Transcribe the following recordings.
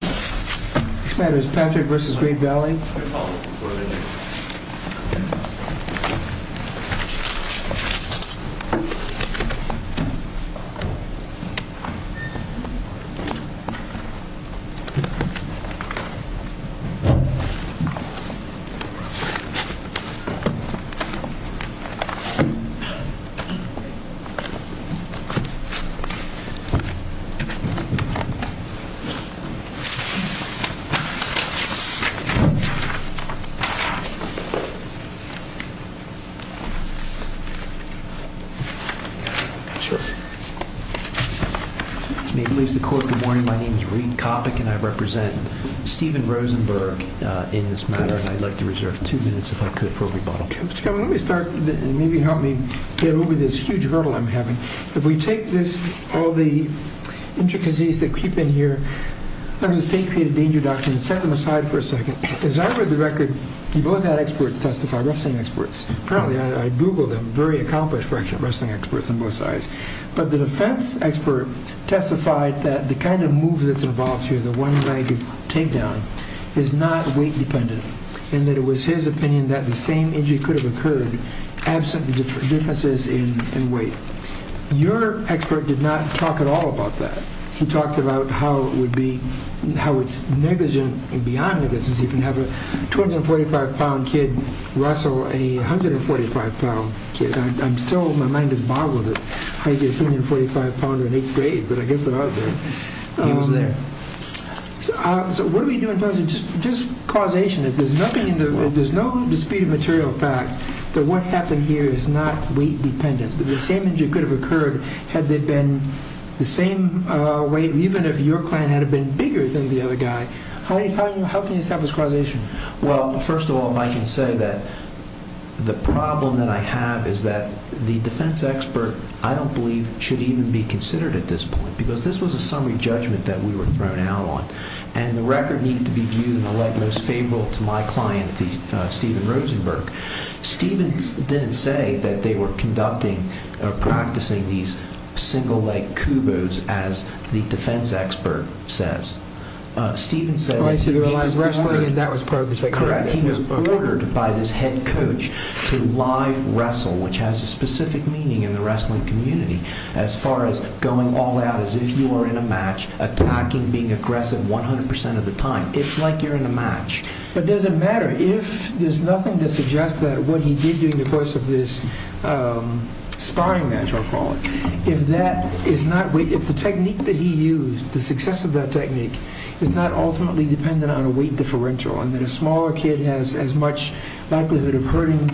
This matter is Patrick v. Great Valley. Good morning. My name is Reed Coppock and I represent Stephen Rosenberg in this matter. I'd like to reserve two minutes if I could for rebuttal. Let me start and maybe help me get over this huge hurdle I'm having. If we take this, all the intricacies that creep in here, under the state-created danger doctrine, and set them aside for a second. As I read the record, you both had experts testify, wrestling experts. Apparently, I Googled them, very accomplished wrestling experts on both sides. But the defense expert testified that the kind of move that's involved here, the one-legged takedown, is not weight-dependent, and that it was his opinion that the same injury could have occurred, absent the differences in weight. Your expert did not talk at all about that. He talked about how it's negligent beyond negligence. You can have a 245-pound kid wrestle a 145-pound kid. I'm still, my mind is boggled at how you get a 245-pounder in eighth grade, but I guess they're out there. He was there. So what do we do in terms of just causation? If there's no disputed material fact that what happened here is not weight-dependent, that the same injury could have occurred had there been the same weight, even if your client had been bigger than the other guy, how can you establish causation? Well, first of all, I can say that the problem that I have is that the defense expert, I don't believe, should even be considered at this point, because this was a summary judgment that we were thrown out on, and the record needs to be viewed in the light most favorable to my client, Stephen Rosenberg. Stephen didn't say that they were conducting or practicing these single-leg kubos, as the defense expert says. Stephen said that he was ordered by this head coach to live wrestle, which has a specific meaning in the wrestling community, as far as going all out as if you were in a match, attacking, being aggressive 100% of the time. It's like you're in a match. But does it matter? There's nothing to suggest that what he did during the course of this sparring match, I'll call it, if the technique that he used, the success of that technique, is not ultimately dependent on a weight differential, and that a smaller kid has as much likelihood of hurting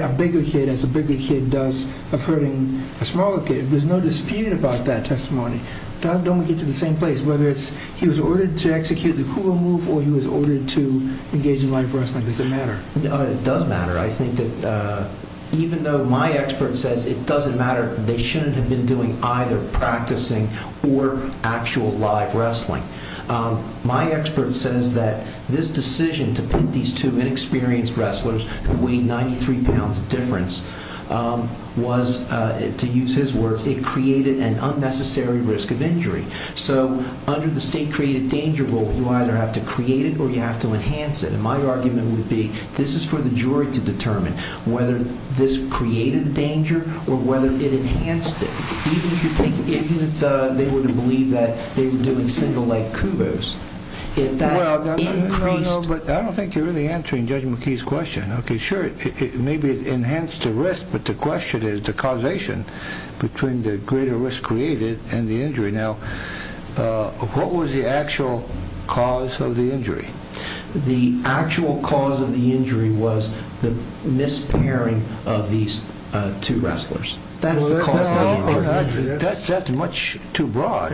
a bigger kid as a bigger kid does of hurting a smaller kid. There's no dispute about that testimony. Don't get to the same place. Whether he was ordered to execute the kubo move or he was ordered to engage in live wrestling, does it matter? It does matter. I think that even though my expert says it doesn't matter, they shouldn't have been doing either practicing or actual live wrestling. My expert says that this decision to pit these two inexperienced wrestlers, who weighed 93 pounds difference, was, to use his words, it created an unnecessary risk of injury. So under the state-created danger rule, you either have to create it or you have to enhance it. And my argument would be this is for the jury to determine whether this created the danger or whether it enhanced it. Even if they were to believe that they were doing single leg kubos, if that increased... I don't think you're really answering Judge McKee's question. Okay, sure, maybe it enhanced the risk, but the question is the causation between the greater risk created and the injury. Now, what was the actual cause of the injury? The actual cause of the injury was the mispairing of these two wrestlers. That is the cause of the injury. That's much too broad.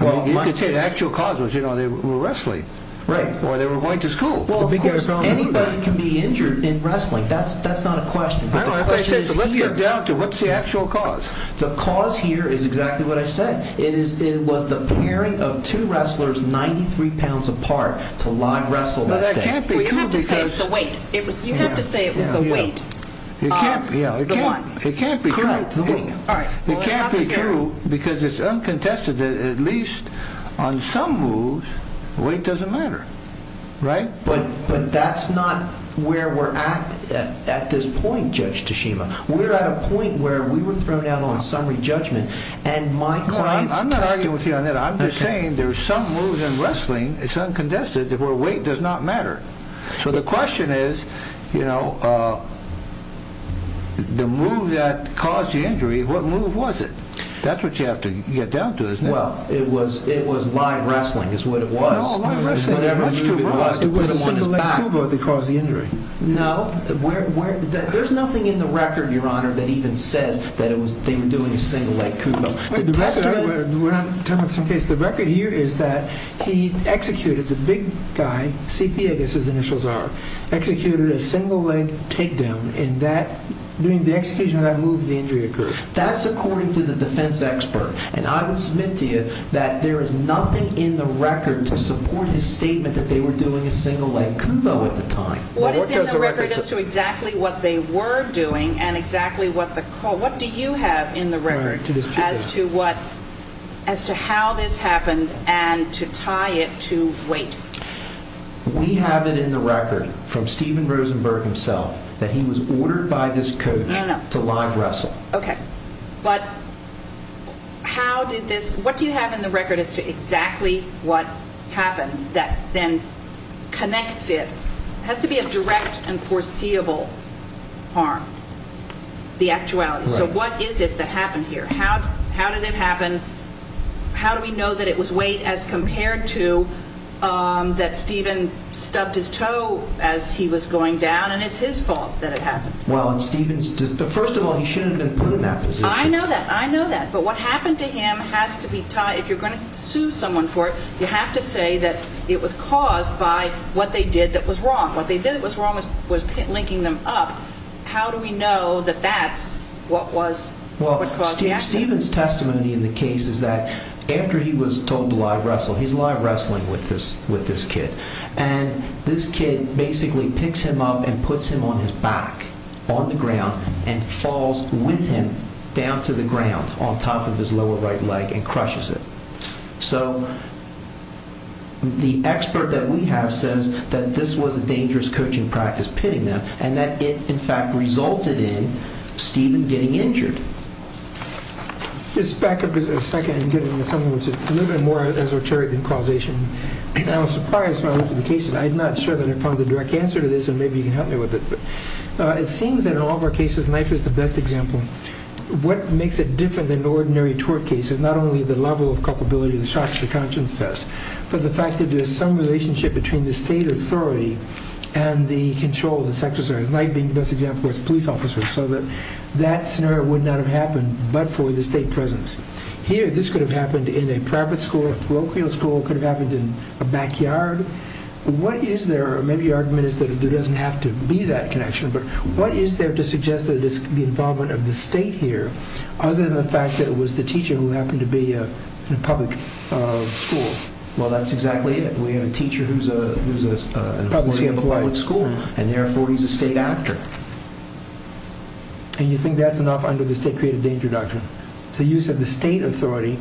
You could say the actual cause was they were wrestling or they were going to school. Well, of course, anybody can be injured in wrestling. That's not a question, but the question is here. Let's get down to what's the actual cause. The cause here is exactly what I said. It was the pairing of two wrestlers 93 pounds apart to live wrestle that day. You have to say it was the weight. It can't be true. It can't be true because it's uncontested that at least on some moves weight doesn't matter, right? But that's not where we're at at this point, Judge Tashima. We're at a point where we were thrown out on summary judgment. I'm not arguing with you on that. I'm just saying there's some moves in wrestling, it's uncontested, where weight does not matter. So the question is, you know, the move that caused the injury, what move was it? That's what you have to get down to, isn't it? Well, it was live wrestling is what it was. It was a single leg kubo that caused the injury. No, there's nothing in the record, Your Honor, that even says that they were doing a single leg kubo. We're not talking about some case. The record here is that he executed the big guy, C.P.A. I guess his initials are, executed a single leg takedown. In that, during the execution of that move, the injury occurred. That's according to the defense expert. And I would submit to you that there is nothing in the record to support his statement that they were doing a single leg kubo at the time. What is in the record as to exactly what they were doing and exactly what the, what do you have in the record as to what, as to how this happened and to tie it to weight? We have it in the record from Steven Rosenberg himself that he was ordered by this coach to live wrestle. Okay, but how did this, what do you have in the record as to exactly what happened that then connects it? It has to be a direct and foreseeable harm, the actuality. So what is it that happened here? How did it happen? How do we know that it was weight as compared to that Steven stubbed his toe as he was going down and it's his fault that it happened? Well, and Steven's, first of all, he shouldn't have been put in that position. I know that. I know that. But what happened to him has to be tied. If you're going to sue someone for it, you have to say that it was caused by what they did that was wrong. What they did that was wrong was linking them up. How do we know that that's what was, what caused the accident? Well, Steven's testimony in the case is that after he was told to live wrestle, he's live wrestling with this kid. And this kid basically picks him up and puts him on his back on the ground and falls with him down to the ground on top of his lower right leg and crushes it. So the expert that we have says that this was a dangerous coaching practice, pitting them, and that it, in fact, resulted in Steven getting injured. Just back up a second and get into something which is a little bit more esoteric than causation. I was surprised when I looked at the cases. I'm not sure that I found a direct answer to this, and maybe you can help me with it. But it seems that in all of our cases, knife is the best example. What makes it different than ordinary tort cases, not only the level of culpability, the shock to the conscience test, but the fact that there's some relationship between the state authority and the control, the sex officers. Knife being the best example is police officers. So that scenario would not have happened but for the state presence. Here, this could have happened in a private school, a parochial school. It could have happened in a backyard. What is there, maybe your argument is that there doesn't have to be that connection, but what is there to suggest that it's the involvement of the state here other than the fact that it was the teacher who happened to be in a public school? Well, that's exactly it. We have a teacher who's an employee of a public school, and therefore he's a state actor. And you think that's enough under the state creative danger doctrine? It's the use of the state authority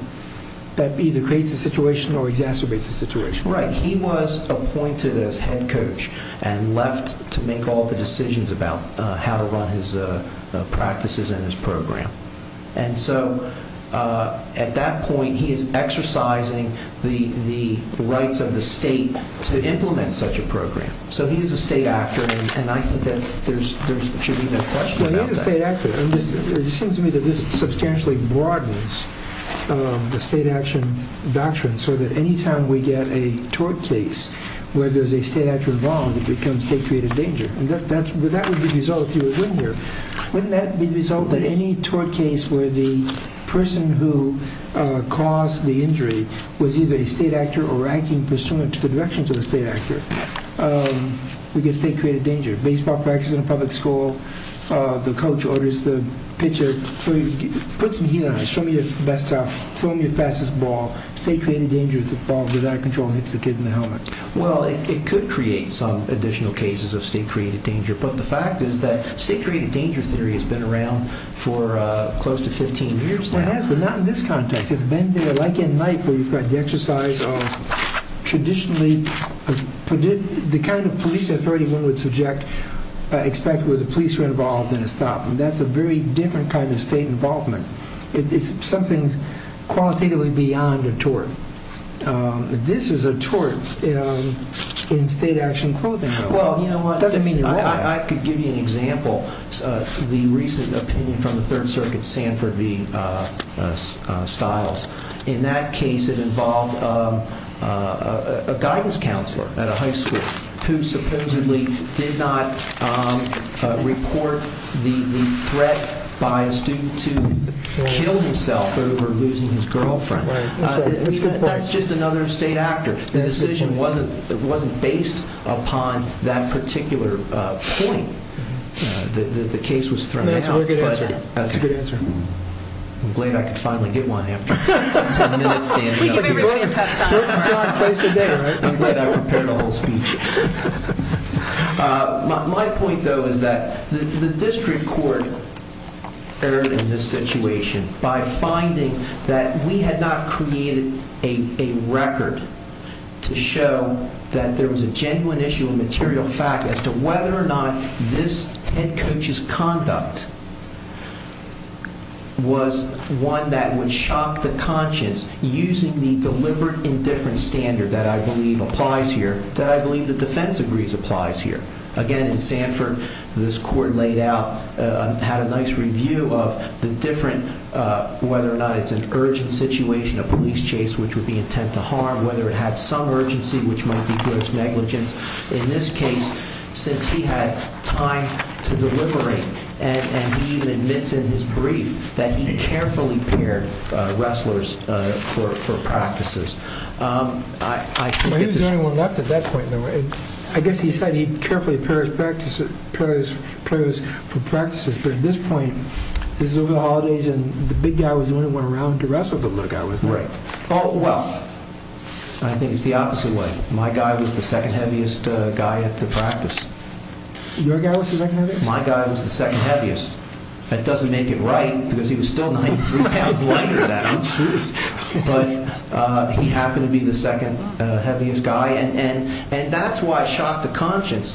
that either creates a situation or exacerbates a situation. Right. He was appointed as head coach and left to make all the decisions about how to run his practices and his program. And so at that point, he is exercising the rights of the state to implement such a program. So he is a state actor, and I think that there should be no question about that. Well, he's a state actor. It seems to me that this substantially broadens the state action doctrine so that any time we get a tort case where there's a state actor involved, it becomes state creative danger. And that would be the result if he was in here. Wouldn't that be the result that any tort case where the person who caused the injury was either a state actor or acting pursuant to the directions of a state actor? We get state creative danger. Baseball practice in a public school. The coach orders the pitcher, put some heat on it. Show me your best stuff. Throw me your fastest ball. State creative danger is the ball without control hits the kid in the helmet. Well, it could create some additional cases of state creative danger. But the fact is that state creative danger theory has been around for close to 15 years now. Well, it has, but not in this context. It's been there like at night where you've got the exercise of traditionally the kind of police authority one would expect where the police were involved in a stop. And that's a very different kind of state involvement. It's something qualitatively beyond a tort. This is a tort in state action clothing. I could give you an example. The recent opinion from the Third Circuit, Sanford v. Stiles. In that case, it involved a guidance counselor at a high school who supposedly did not report the threat by a student to kill himself over losing his girlfriend. That's just another state actor. The decision wasn't based upon that particular point that the case was thrown. That's a good answer. I'm glad I could finally get one after 10 minutes standing up. We give everybody a tough time. I'm glad I prepared a whole speech. My point, though, is that the district court erred in this situation by finding that we had not created a record to show that there was a genuine issue of material fact as to whether or not this head coach's conduct was one that would shock the conscience using the deliberate indifference standard that I believe applies here. Again, in Sanford, this court laid out, had a nice review of whether or not it's an urgent situation, a police chase which would be intent to harm, whether it had some urgency which might be gross negligence. In this case, since he had time to deliberate and he even admits in his brief that he carefully paired wrestlers for practices. He was the only one left at that point. I guess he said he carefully paired his players for practices. But at this point, this is over the holidays and the big guy was the only one around to wrestle the little guy. Right. Well, I think it's the opposite way. My guy was the second heaviest guy at the practice. Your guy was the second heaviest? My guy was the second heaviest. That doesn't make it right because he was still 93 pounds lighter than him. But he happened to be the second heaviest guy. And that's why it shocked the conscience.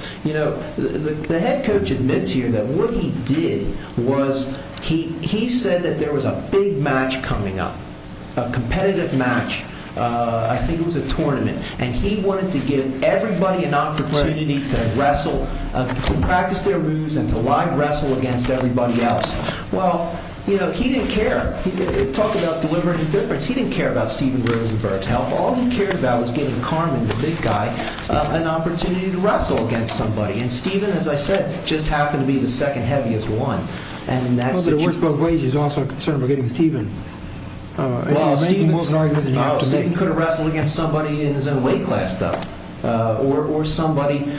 The head coach admits here that what he did was he said that there was a big match coming up, a competitive match. I think it was a tournament. And he wanted to give everybody an opportunity to wrestle, to practice their moves and to live wrestle against everybody else. Well, he didn't care. He didn't talk about delivering a difference. He didn't care about Steven Rosenberg's health. All he cared about was giving Carmen, the big guy, an opportunity to wrestle against somebody. And Steven, as I said, just happened to be the second heaviest one. Well, the worst of all wages is also a concern for getting Steven. Well, Steven could have wrestled against somebody in his own weight class, though, or somebody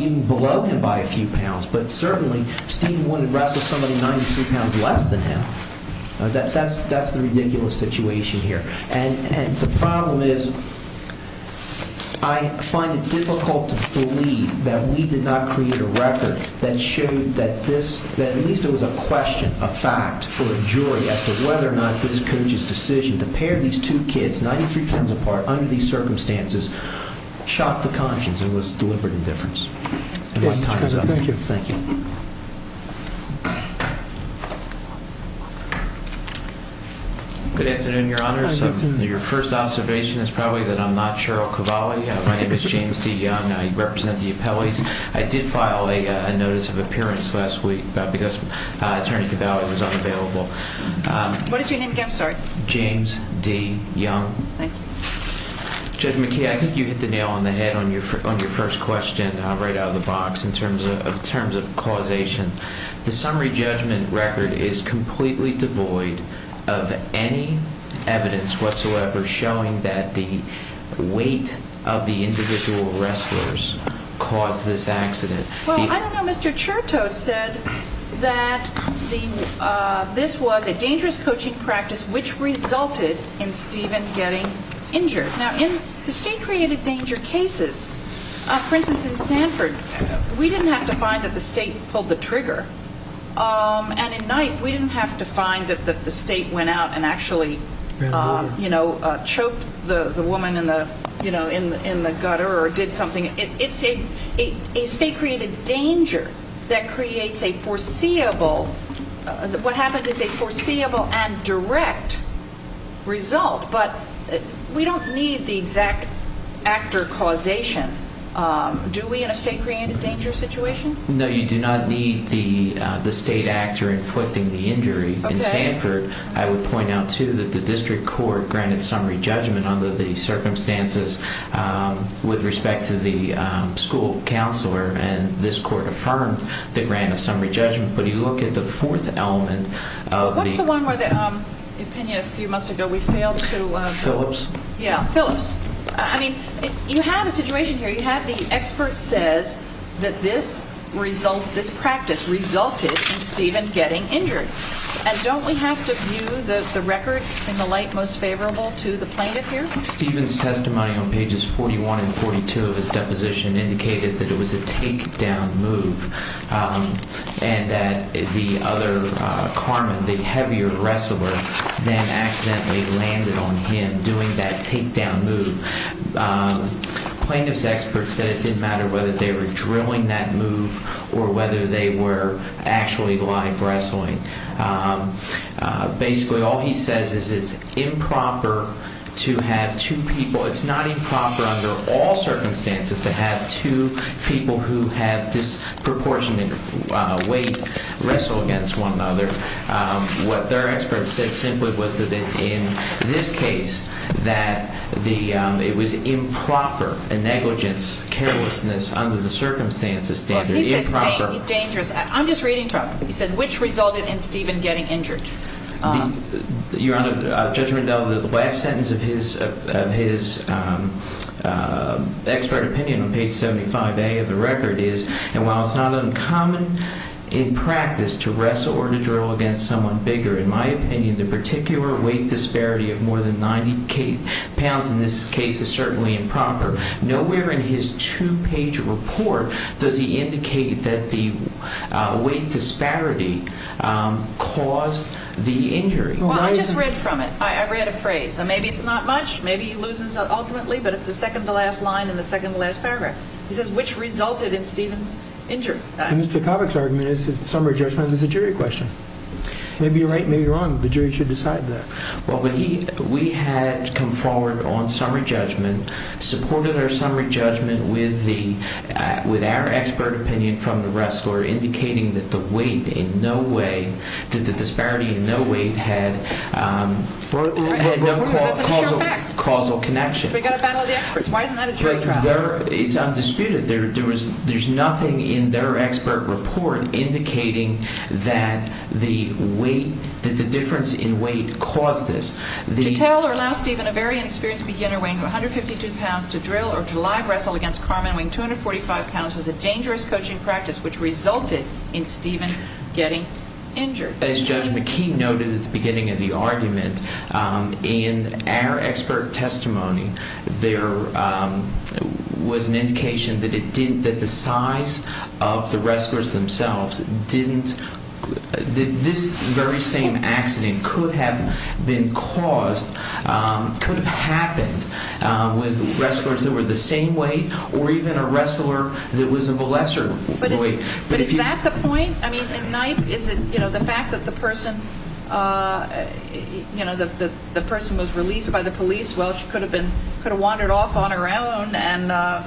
even below him by a few pounds. But certainly, Steven wouldn't wrestle somebody 93 pounds less than him. That's the ridiculous situation here. And the problem is I find it difficult to believe that we did not create a record that showed that this – that at least it was a question, a fact for a jury as to whether or not this coach's decision to pair these two kids 93 pounds apart under these circumstances shocked the conscience and was deliberate indifference. Thank you. Good afternoon, Your Honors. Your first observation is probably that I'm not Cheryl Cavalli. My name is James D. Young. I represent the appellees. I did file a notice of appearance last week because Attorney Cavalli was unavailable. What is your name again? I'm sorry. James D. Young. Thank you. Judge McKee, I think you hit the nail on the head on your first question right out of the box in terms of causation. The summary judgment record is completely devoid of any evidence whatsoever showing that the weight of the individual wrestlers caused this accident. Well, I don't know. Mr. Chertow said that this was a dangerous coaching practice which resulted in Stephen getting injured. Now, in the state-created danger cases, for instance, in Sanford, we didn't have to find that the state pulled the trigger. And in Knight, we didn't have to find that the state went out and actually, you know, choked the woman in the gutter or did something. It's a state-created danger that creates a foreseeable – what happens is a foreseeable and direct result. But we don't need the exact actor causation, do we, in a state-created danger situation? No, you do not need the state actor inflicting the injury. Okay. In Sanford, I would point out, too, that the district court granted summary judgment under the circumstances with respect to the school counselor. And this court affirmed they granted summary judgment. But if you look at the fourth element of the – What's the one where the opinion a few months ago we failed to – Phillips? Yeah, Phillips. I mean, you have a situation here. You have the expert says that this practice resulted in Stephen getting injured. And don't we have to view the record in the light most favorable to the plaintiff here? Stephen's testimony on pages 41 and 42 of his deposition indicated that it was a takedown move and that the other – Carmen, the heavier wrestler, then accidentally landed on him doing that takedown move. Plaintiff's expert said it didn't matter whether they were drilling that move or whether they were actually live wrestling. Basically, all he says is it's improper to have two people – weight wrestle against one another. What their expert said simply was that in this case that it was improper, a negligence, carelessness under the circumstances standard. He said it's dangerous. I'm just reading from it. He said which resulted in Stephen getting injured. Your Honor, Judge Rendell, the last sentence of his expert opinion on page 75A of the record is, and while it's not uncommon in practice to wrestle or to drill against someone bigger, in my opinion, the particular weight disparity of more than 90 pounds in this case is certainly improper. Nowhere in his two-page report does he indicate that the weight disparity caused the injury. Well, I just read from it. I read a phrase. Maybe it's not much. Maybe he loses ultimately, but it's the second-to-last line in the second-to-last paragraph. He says which resulted in Stephen's injury. Mr. Kovach's argument is that summary judgment is a jury question. Maybe you're right. Maybe you're wrong. The jury should decide that. Well, we had come forward on summary judgment, supported our summary judgment with our expert opinion from the rest, or indicating that the weight in no way, that the disparity in no way had no causal connection. So we've got to battle the experts. Why isn't that a jury trial? It's undisputed. There's nothing in their expert report indicating that the weight, that the difference in weight caused this. To tell or allow Stephen, a very inexperienced beginner, weighing 152 pounds, to drill or to live wrestle against Carmen, weighing 245 pounds, was a dangerous coaching practice, which resulted in Stephen getting injured. As Judge McKee noted at the beginning of the argument, in our expert testimony, there was an indication that it didn't, that the size of the wrestlers themselves didn't, that this very same accident could have been caused, could have happened with wrestlers that were the same weight or even a wrestler that was of a lesser weight. But is that the point? I mean, is it, you know, the fact that the person, you know, the person was released by the police, well, she could have wandered off on her own and,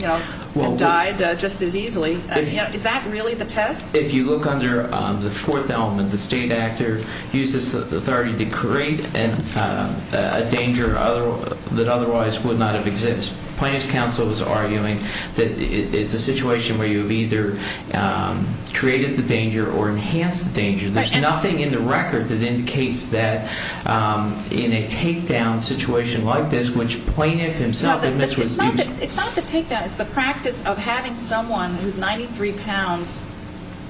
you know, died just as easily. Is that really the test? If you look under the fourth element, the state actor uses authority to create a danger that otherwise would not have existed. Plaintiff's counsel was arguing that it's a situation where you've either created the danger or enhanced the danger. There's nothing in the record that indicates that in a takedown situation like this, which plaintiff himself admits was used. It's not the takedown. It's the practice of having someone who's 93 pounds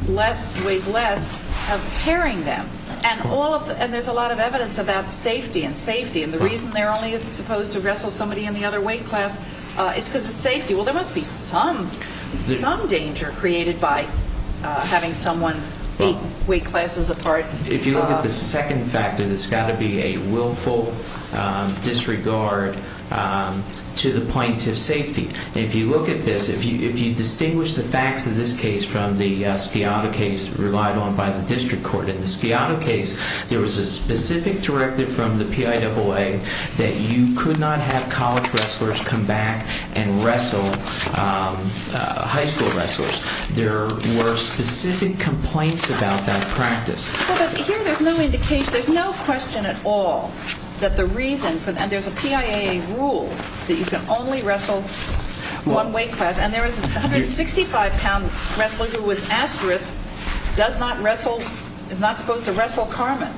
less, weighs less, of carrying them. And there's a lot of evidence about safety and safety. And the reason they're only supposed to wrestle somebody in the other weight class is because of safety. Well, there must be some danger created by having someone eight weight classes apart. If you look at the second factor, there's got to be a willful disregard to the plaintiff's safety. And if you look at this, if you distinguish the facts of this case from the Sciato case relied on by the district court, there was a specific directive from the PIAA that you could not have college wrestlers come back and wrestle high school wrestlers. There were specific complaints about that practice. Well, but here there's no indication, there's no question at all that the reason for that, and there's a PIAA rule that you can only wrestle one weight class. And there was a 165-pound wrestler who was asterisked, does not wrestle, is not supposed to wrestle Carmen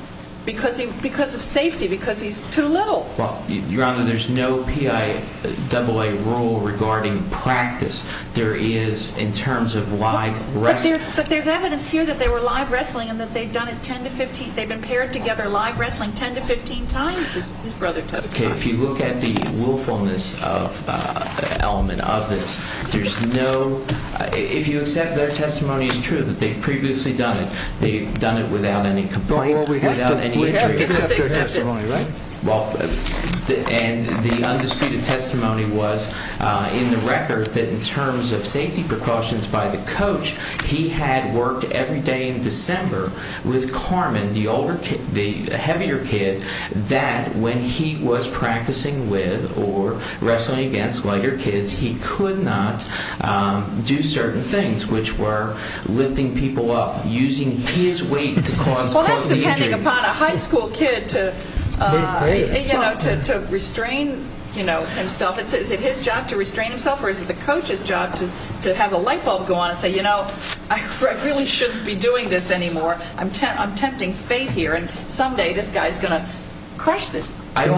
because of safety, because he's too little. Well, Your Honor, there's no PIAA rule regarding practice. There is in terms of live wrestling. But there's evidence here that they were live wrestling and that they've done it 10 to 15, they've been paired together live wrestling 10 to 15 times, his brother told me. Okay, if you look at the willfulness element of this, there's no, if you accept their testimony is true that they've previously done it, they've done it without any complaint, without any injury. Well, we have to give it up for their testimony, right? Well, and the undisputed testimony was in the record that in terms of safety precautions by the coach, he had worked every day in December with Carmen, the older kid, the heavier kid, that when he was practicing with or wrestling against lighter kids, he could not do certain things, which were lifting people up, using his weight to cause chronic injury. Well, that's depending upon a high school kid to, you know, to restrain, you know, himself. Is it his job to restrain himself or is it the coach's job to have a lightbulb go on and say, you know, I really shouldn't be doing this anymore, I'm tempting fate here and someday this guy's going to crush this. I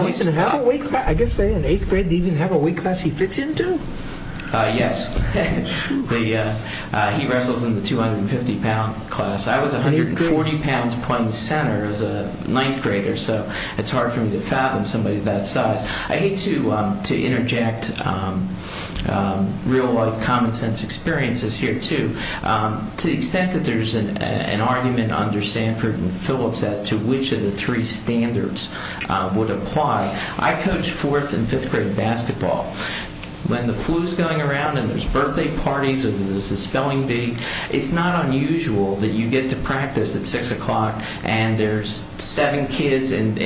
guess they in eighth grade didn't even have a weight class he fits into? Yes, he wrestles in the 250-pound class. I was 140 pounds point center as a ninth grader, so it's hard for me to fathom somebody that size. I hate to interject real-life common sense experiences here, too. To the extent that there's an argument under Stanford and Phillips as to which of the three standards would apply, I coach fourth and fifth grade basketball. When the flu's going around and there's birthday parties or there's a spelling bee, it's not unusual that you get to practice at 6 o'clock and there's seven kids and,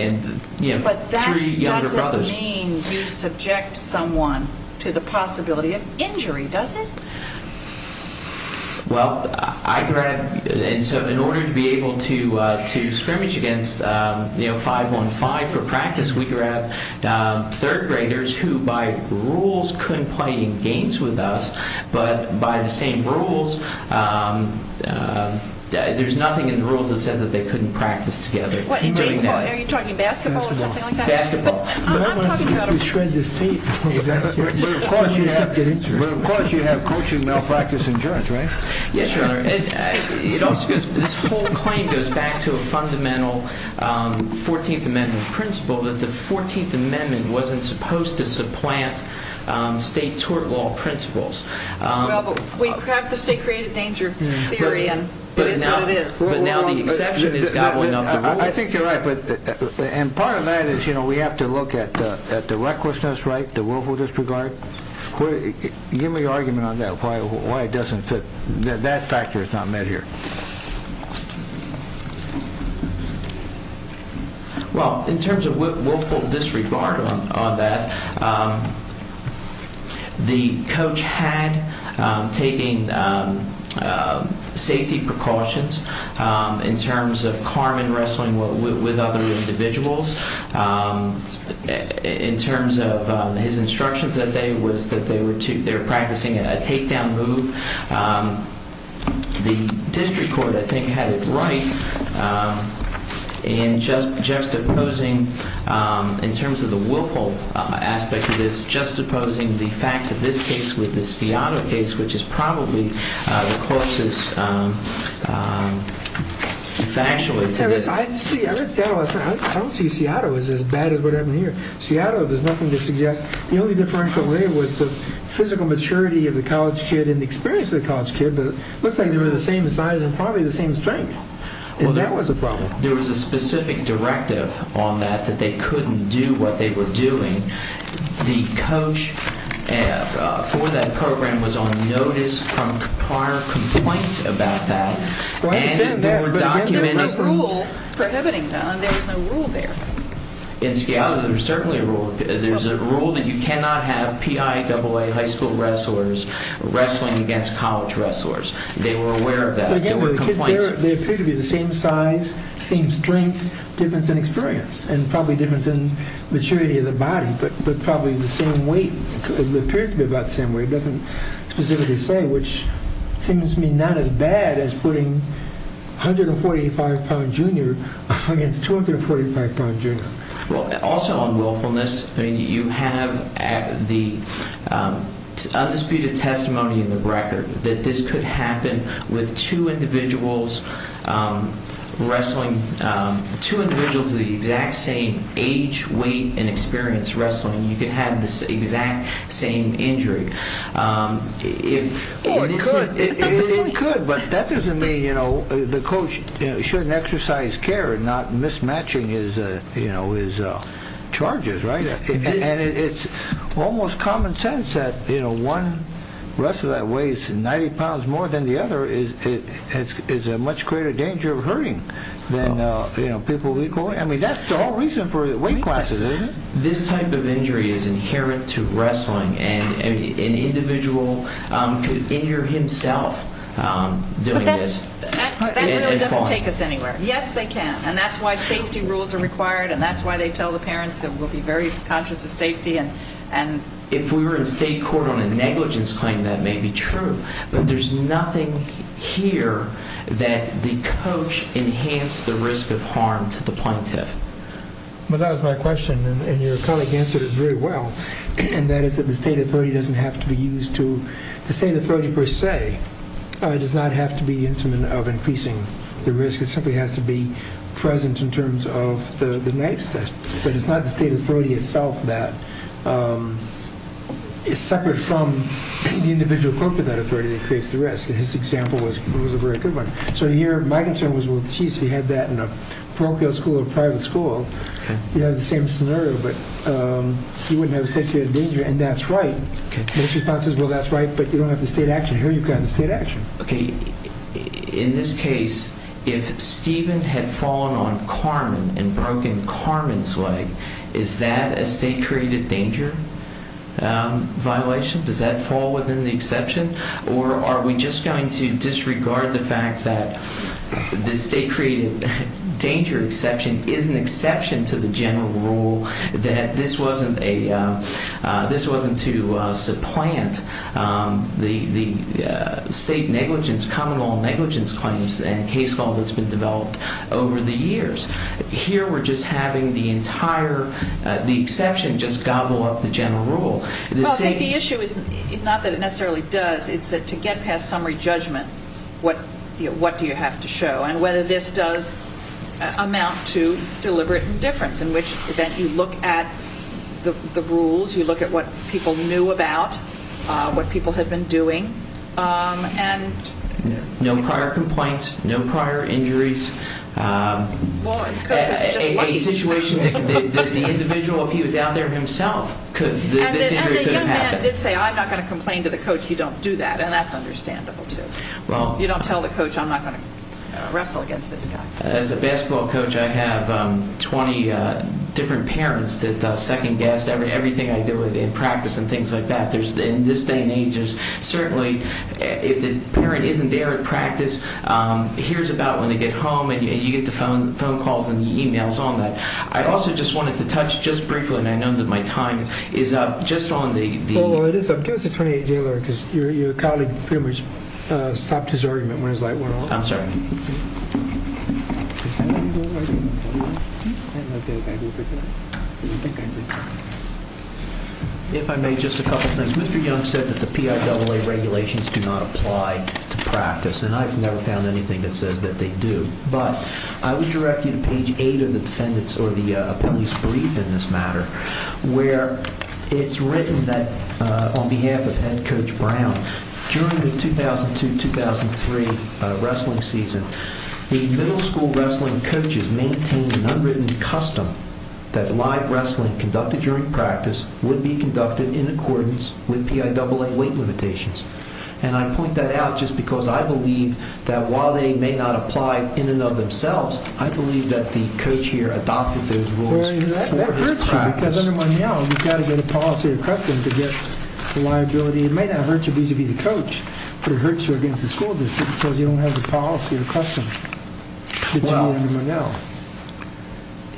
you know, three younger brothers. That doesn't mean you subject someone to the possibility of injury, does it? Well, I grab – and so in order to be able to scrimmage against, you know, 5-1-5 for practice, we grab third graders who by rules couldn't play any games with us, but by the same rules – there's nothing in the rules that says that they couldn't practice together. What, in baseball? Are you talking basketball or something like that? Basketball. I'm not talking about – I don't want to see you shred this tape. But of course you have coaching malpractice insurance, right? Yes, Your Honor. This whole claim goes back to a fundamental 14th Amendment principle that the 14th Amendment wasn't supposed to supplant state tort law principles. Well, but we have the state-created danger theory, and it is what it is. But now the exception is gobbling up the rules. I think you're right, and part of that is, you know, we have to look at the recklessness, right, the willful disregard. Give me your argument on that, why it doesn't fit. That factor is not met here. Well, in terms of willful disregard on that, the coach had taken safety precautions in terms of Carmen wrestling with other individuals. In terms of his instructions that day was that they were practicing a takedown move. The district court, I think, had it right in juxtaposing, in terms of the willful aspect of this, juxtaposing the facts of this case with this Fiato case, which is probably the closest factually to this. I don't see Seattle as bad as what happened here. Seattle, there's nothing to suggest. The only differential there was the physical maturity of the college kid and the experience of the college kid, but it looks like they were the same size and probably the same strength, and that was a problem. There was a specific directive on that, that they couldn't do what they were doing and the coach for that program was on notice from prior complaints about that. There was no rule prohibiting that. There was no rule there. In Seattle, there's certainly a rule. There's a rule that you cannot have PIAA high school wrestlers wrestling against college wrestlers. They were aware of that. They appeared to be the same size, same strength, difference in experience, and probably difference in maturity of the body, but probably the same weight. It appears to be about the same weight. It doesn't specifically say, which seems to me not as bad as putting 145-pound junior against 245-pound junior. Also on willfulness, you have the undisputed testimony in the record that this could happen with two individuals of the exact same age, weight, and experience wrestling. You could have the exact same injury. It could, but that doesn't mean the coach shouldn't exercise care and not mismatch his charges. It's almost common sense that one wrestler that weighs 90 pounds more than the other is a much greater danger of hurting than people of equal weight. That's the whole reason for weight classes, isn't it? This type of injury is inherent to wrestling. An individual could injure himself doing this. That really doesn't take us anywhere. Yes, they can, and that's why safety rules are required, and that's why they tell the parents that we'll be very conscious of safety. If we were in state court on a negligence claim, that may be true, but there's nothing here that the coach enhanced the risk of harm to the plaintiff. That was my question, and your colleague answered it very well, and that is that the state authority doesn't have to be used to. The state authority per se does not have to be the instrument of increasing the risk. It simply has to be present in terms of the next step, but it's not the state authority itself that is separate from the individual coaching that authority that creates the risk, and his example was a very good one. So here my concern was, well, geez, if you had that in a parochial school or a private school, you'd have the same scenario, but you wouldn't have a state of danger, and that's right. Most responses, well, that's right, but you don't have the state action. Here you've got the state action. Okay. In this case, if Steven had fallen on Carmen and broken Carmen's leg, is that a state-created danger violation? Does that fall within the exception, or are we just going to disregard the fact that the state-created danger exception is an exception to the general rule that this wasn't to supplant the state negligence, common law negligence claims, and case law that's been developed over the years? Here we're just having the entire exception just gobble up the general rule. The issue is not that it necessarily does. It's that to get past summary judgment, what do you have to show, and whether this does amount to deliberate indifference, in which event you look at the rules, you look at what people knew about, what people had been doing. No prior complaints, no prior injuries. A situation that the individual, if he was out there himself, this injury could have happened. And the young man did say, I'm not going to complain to the coach. You don't do that, and that's understandable, too. You don't tell the coach, I'm not going to wrestle against this guy. As a basketball coach, I have 20 different parents that second-guess everything I do in practice and things like that. In this day and age, certainly if the parent isn't there at practice, hears about when they get home, and you get the phone calls and the e-mails on that. I also just wanted to touch just briefly, and I know that my time is up, just on the— I'm sorry. If I may, just a couple of things. Mr. Young said that the PIAA regulations do not apply to practice, and I've never found anything that says that they do. But I would direct you to page 8 of the defendant's or the appellee's brief in this matter, where it's written that on behalf of Head Coach Brown, during the 2002-2003 wrestling season, the middle school wrestling coaches maintained an unwritten custom that live wrestling conducted during practice would be conducted in accordance with PIAA weight limitations. And I point that out just because I believe that while they may not apply in and of themselves, I believe that the coach here adopted those rules for his practice. Because under Monell, you've got to get a policy of custom to get the liability. It may not hurt you vis-à-vis the coach, but it hurts you against the school just because you don't have the policy of custom. Well,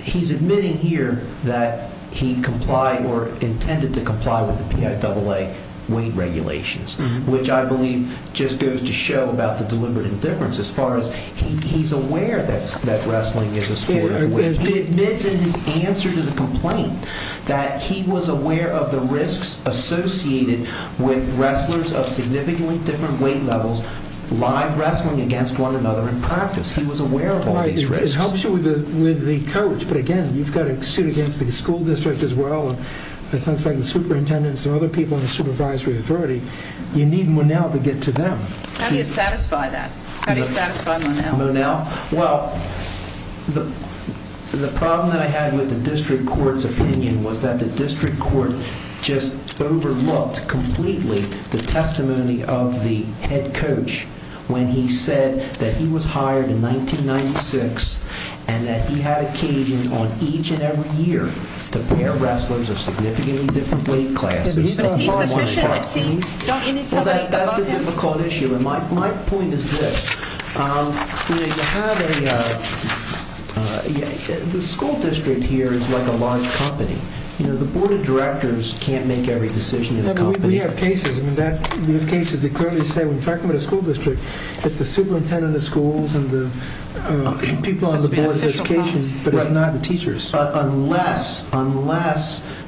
he's admitting here that he complied or intended to comply with the PIAA weight regulations, which I believe just goes to show about the deliberate indifference as far as he's aware that wrestling is a sport. He admits in his answer to the complaint that he was aware of the risks associated with wrestlers of significantly different weight levels live wrestling against one another in practice. He was aware of all these risks. It helps you with the coach, but again, you've got to suit against the school district as well, and things like the superintendents and other people in the supervisory authority. You need Monell to get to them. How do you satisfy that? How do you satisfy Monell? Well, the problem that I had with the district court's opinion was that the district court just overlooked completely the testimony of the head coach when he said that he was hired in 1996 and that he had occasion on each and every year to pair wrestlers of significantly different weight classes. But is he sufficient? Don't you need somebody above him? Well, that's the difficult issue, and my point is this. The school district here is like a large company. The board of directors can't make every decision in the company. We have cases that clearly say when you're talking about a school district, it's the superintendent of the schools and the people on the board of education, but it's not the teachers. Unless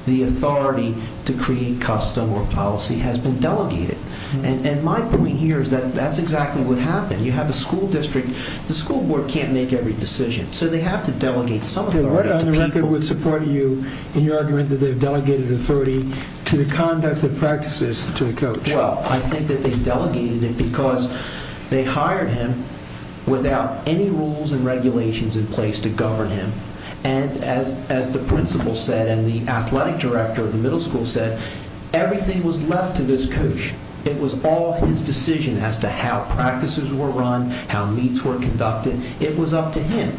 the authority to create custom or policy has been delegated, and my point here is that that's exactly what happened. You have a school district. The school board can't make every decision, so they have to delegate some authority to people. They're right on the record with supporting you in your argument that they've delegated authority to the conduct of practices to the coach. Well, I think that they delegated it because they hired him without any rules and regulations in place to govern him, and as the principal said and the athletic director of the middle school said, everything was left to this coach. It was all his decision as to how practices were run, how meets were conducted. It was up to him,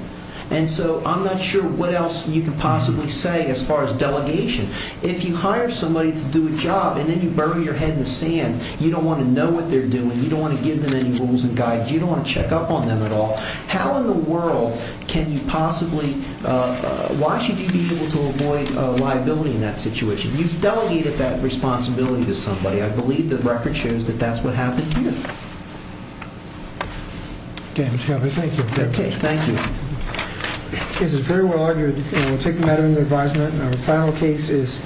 and so I'm not sure what else you can possibly say as far as delegation. If you hire somebody to do a job and then you bury your head in the sand, you don't want to know what they're doing, you don't want to give them any rules and guides, you don't want to check up on them at all. How in the world can you possibly, why should you be able to avoid liability in that situation? You've delegated that responsibility to somebody. I believe the record shows that that's what happened here. Okay, Mr. Caput, thank you. Okay, thank you. This is very well argued, and I'll take the matter into advisement. Our final case is...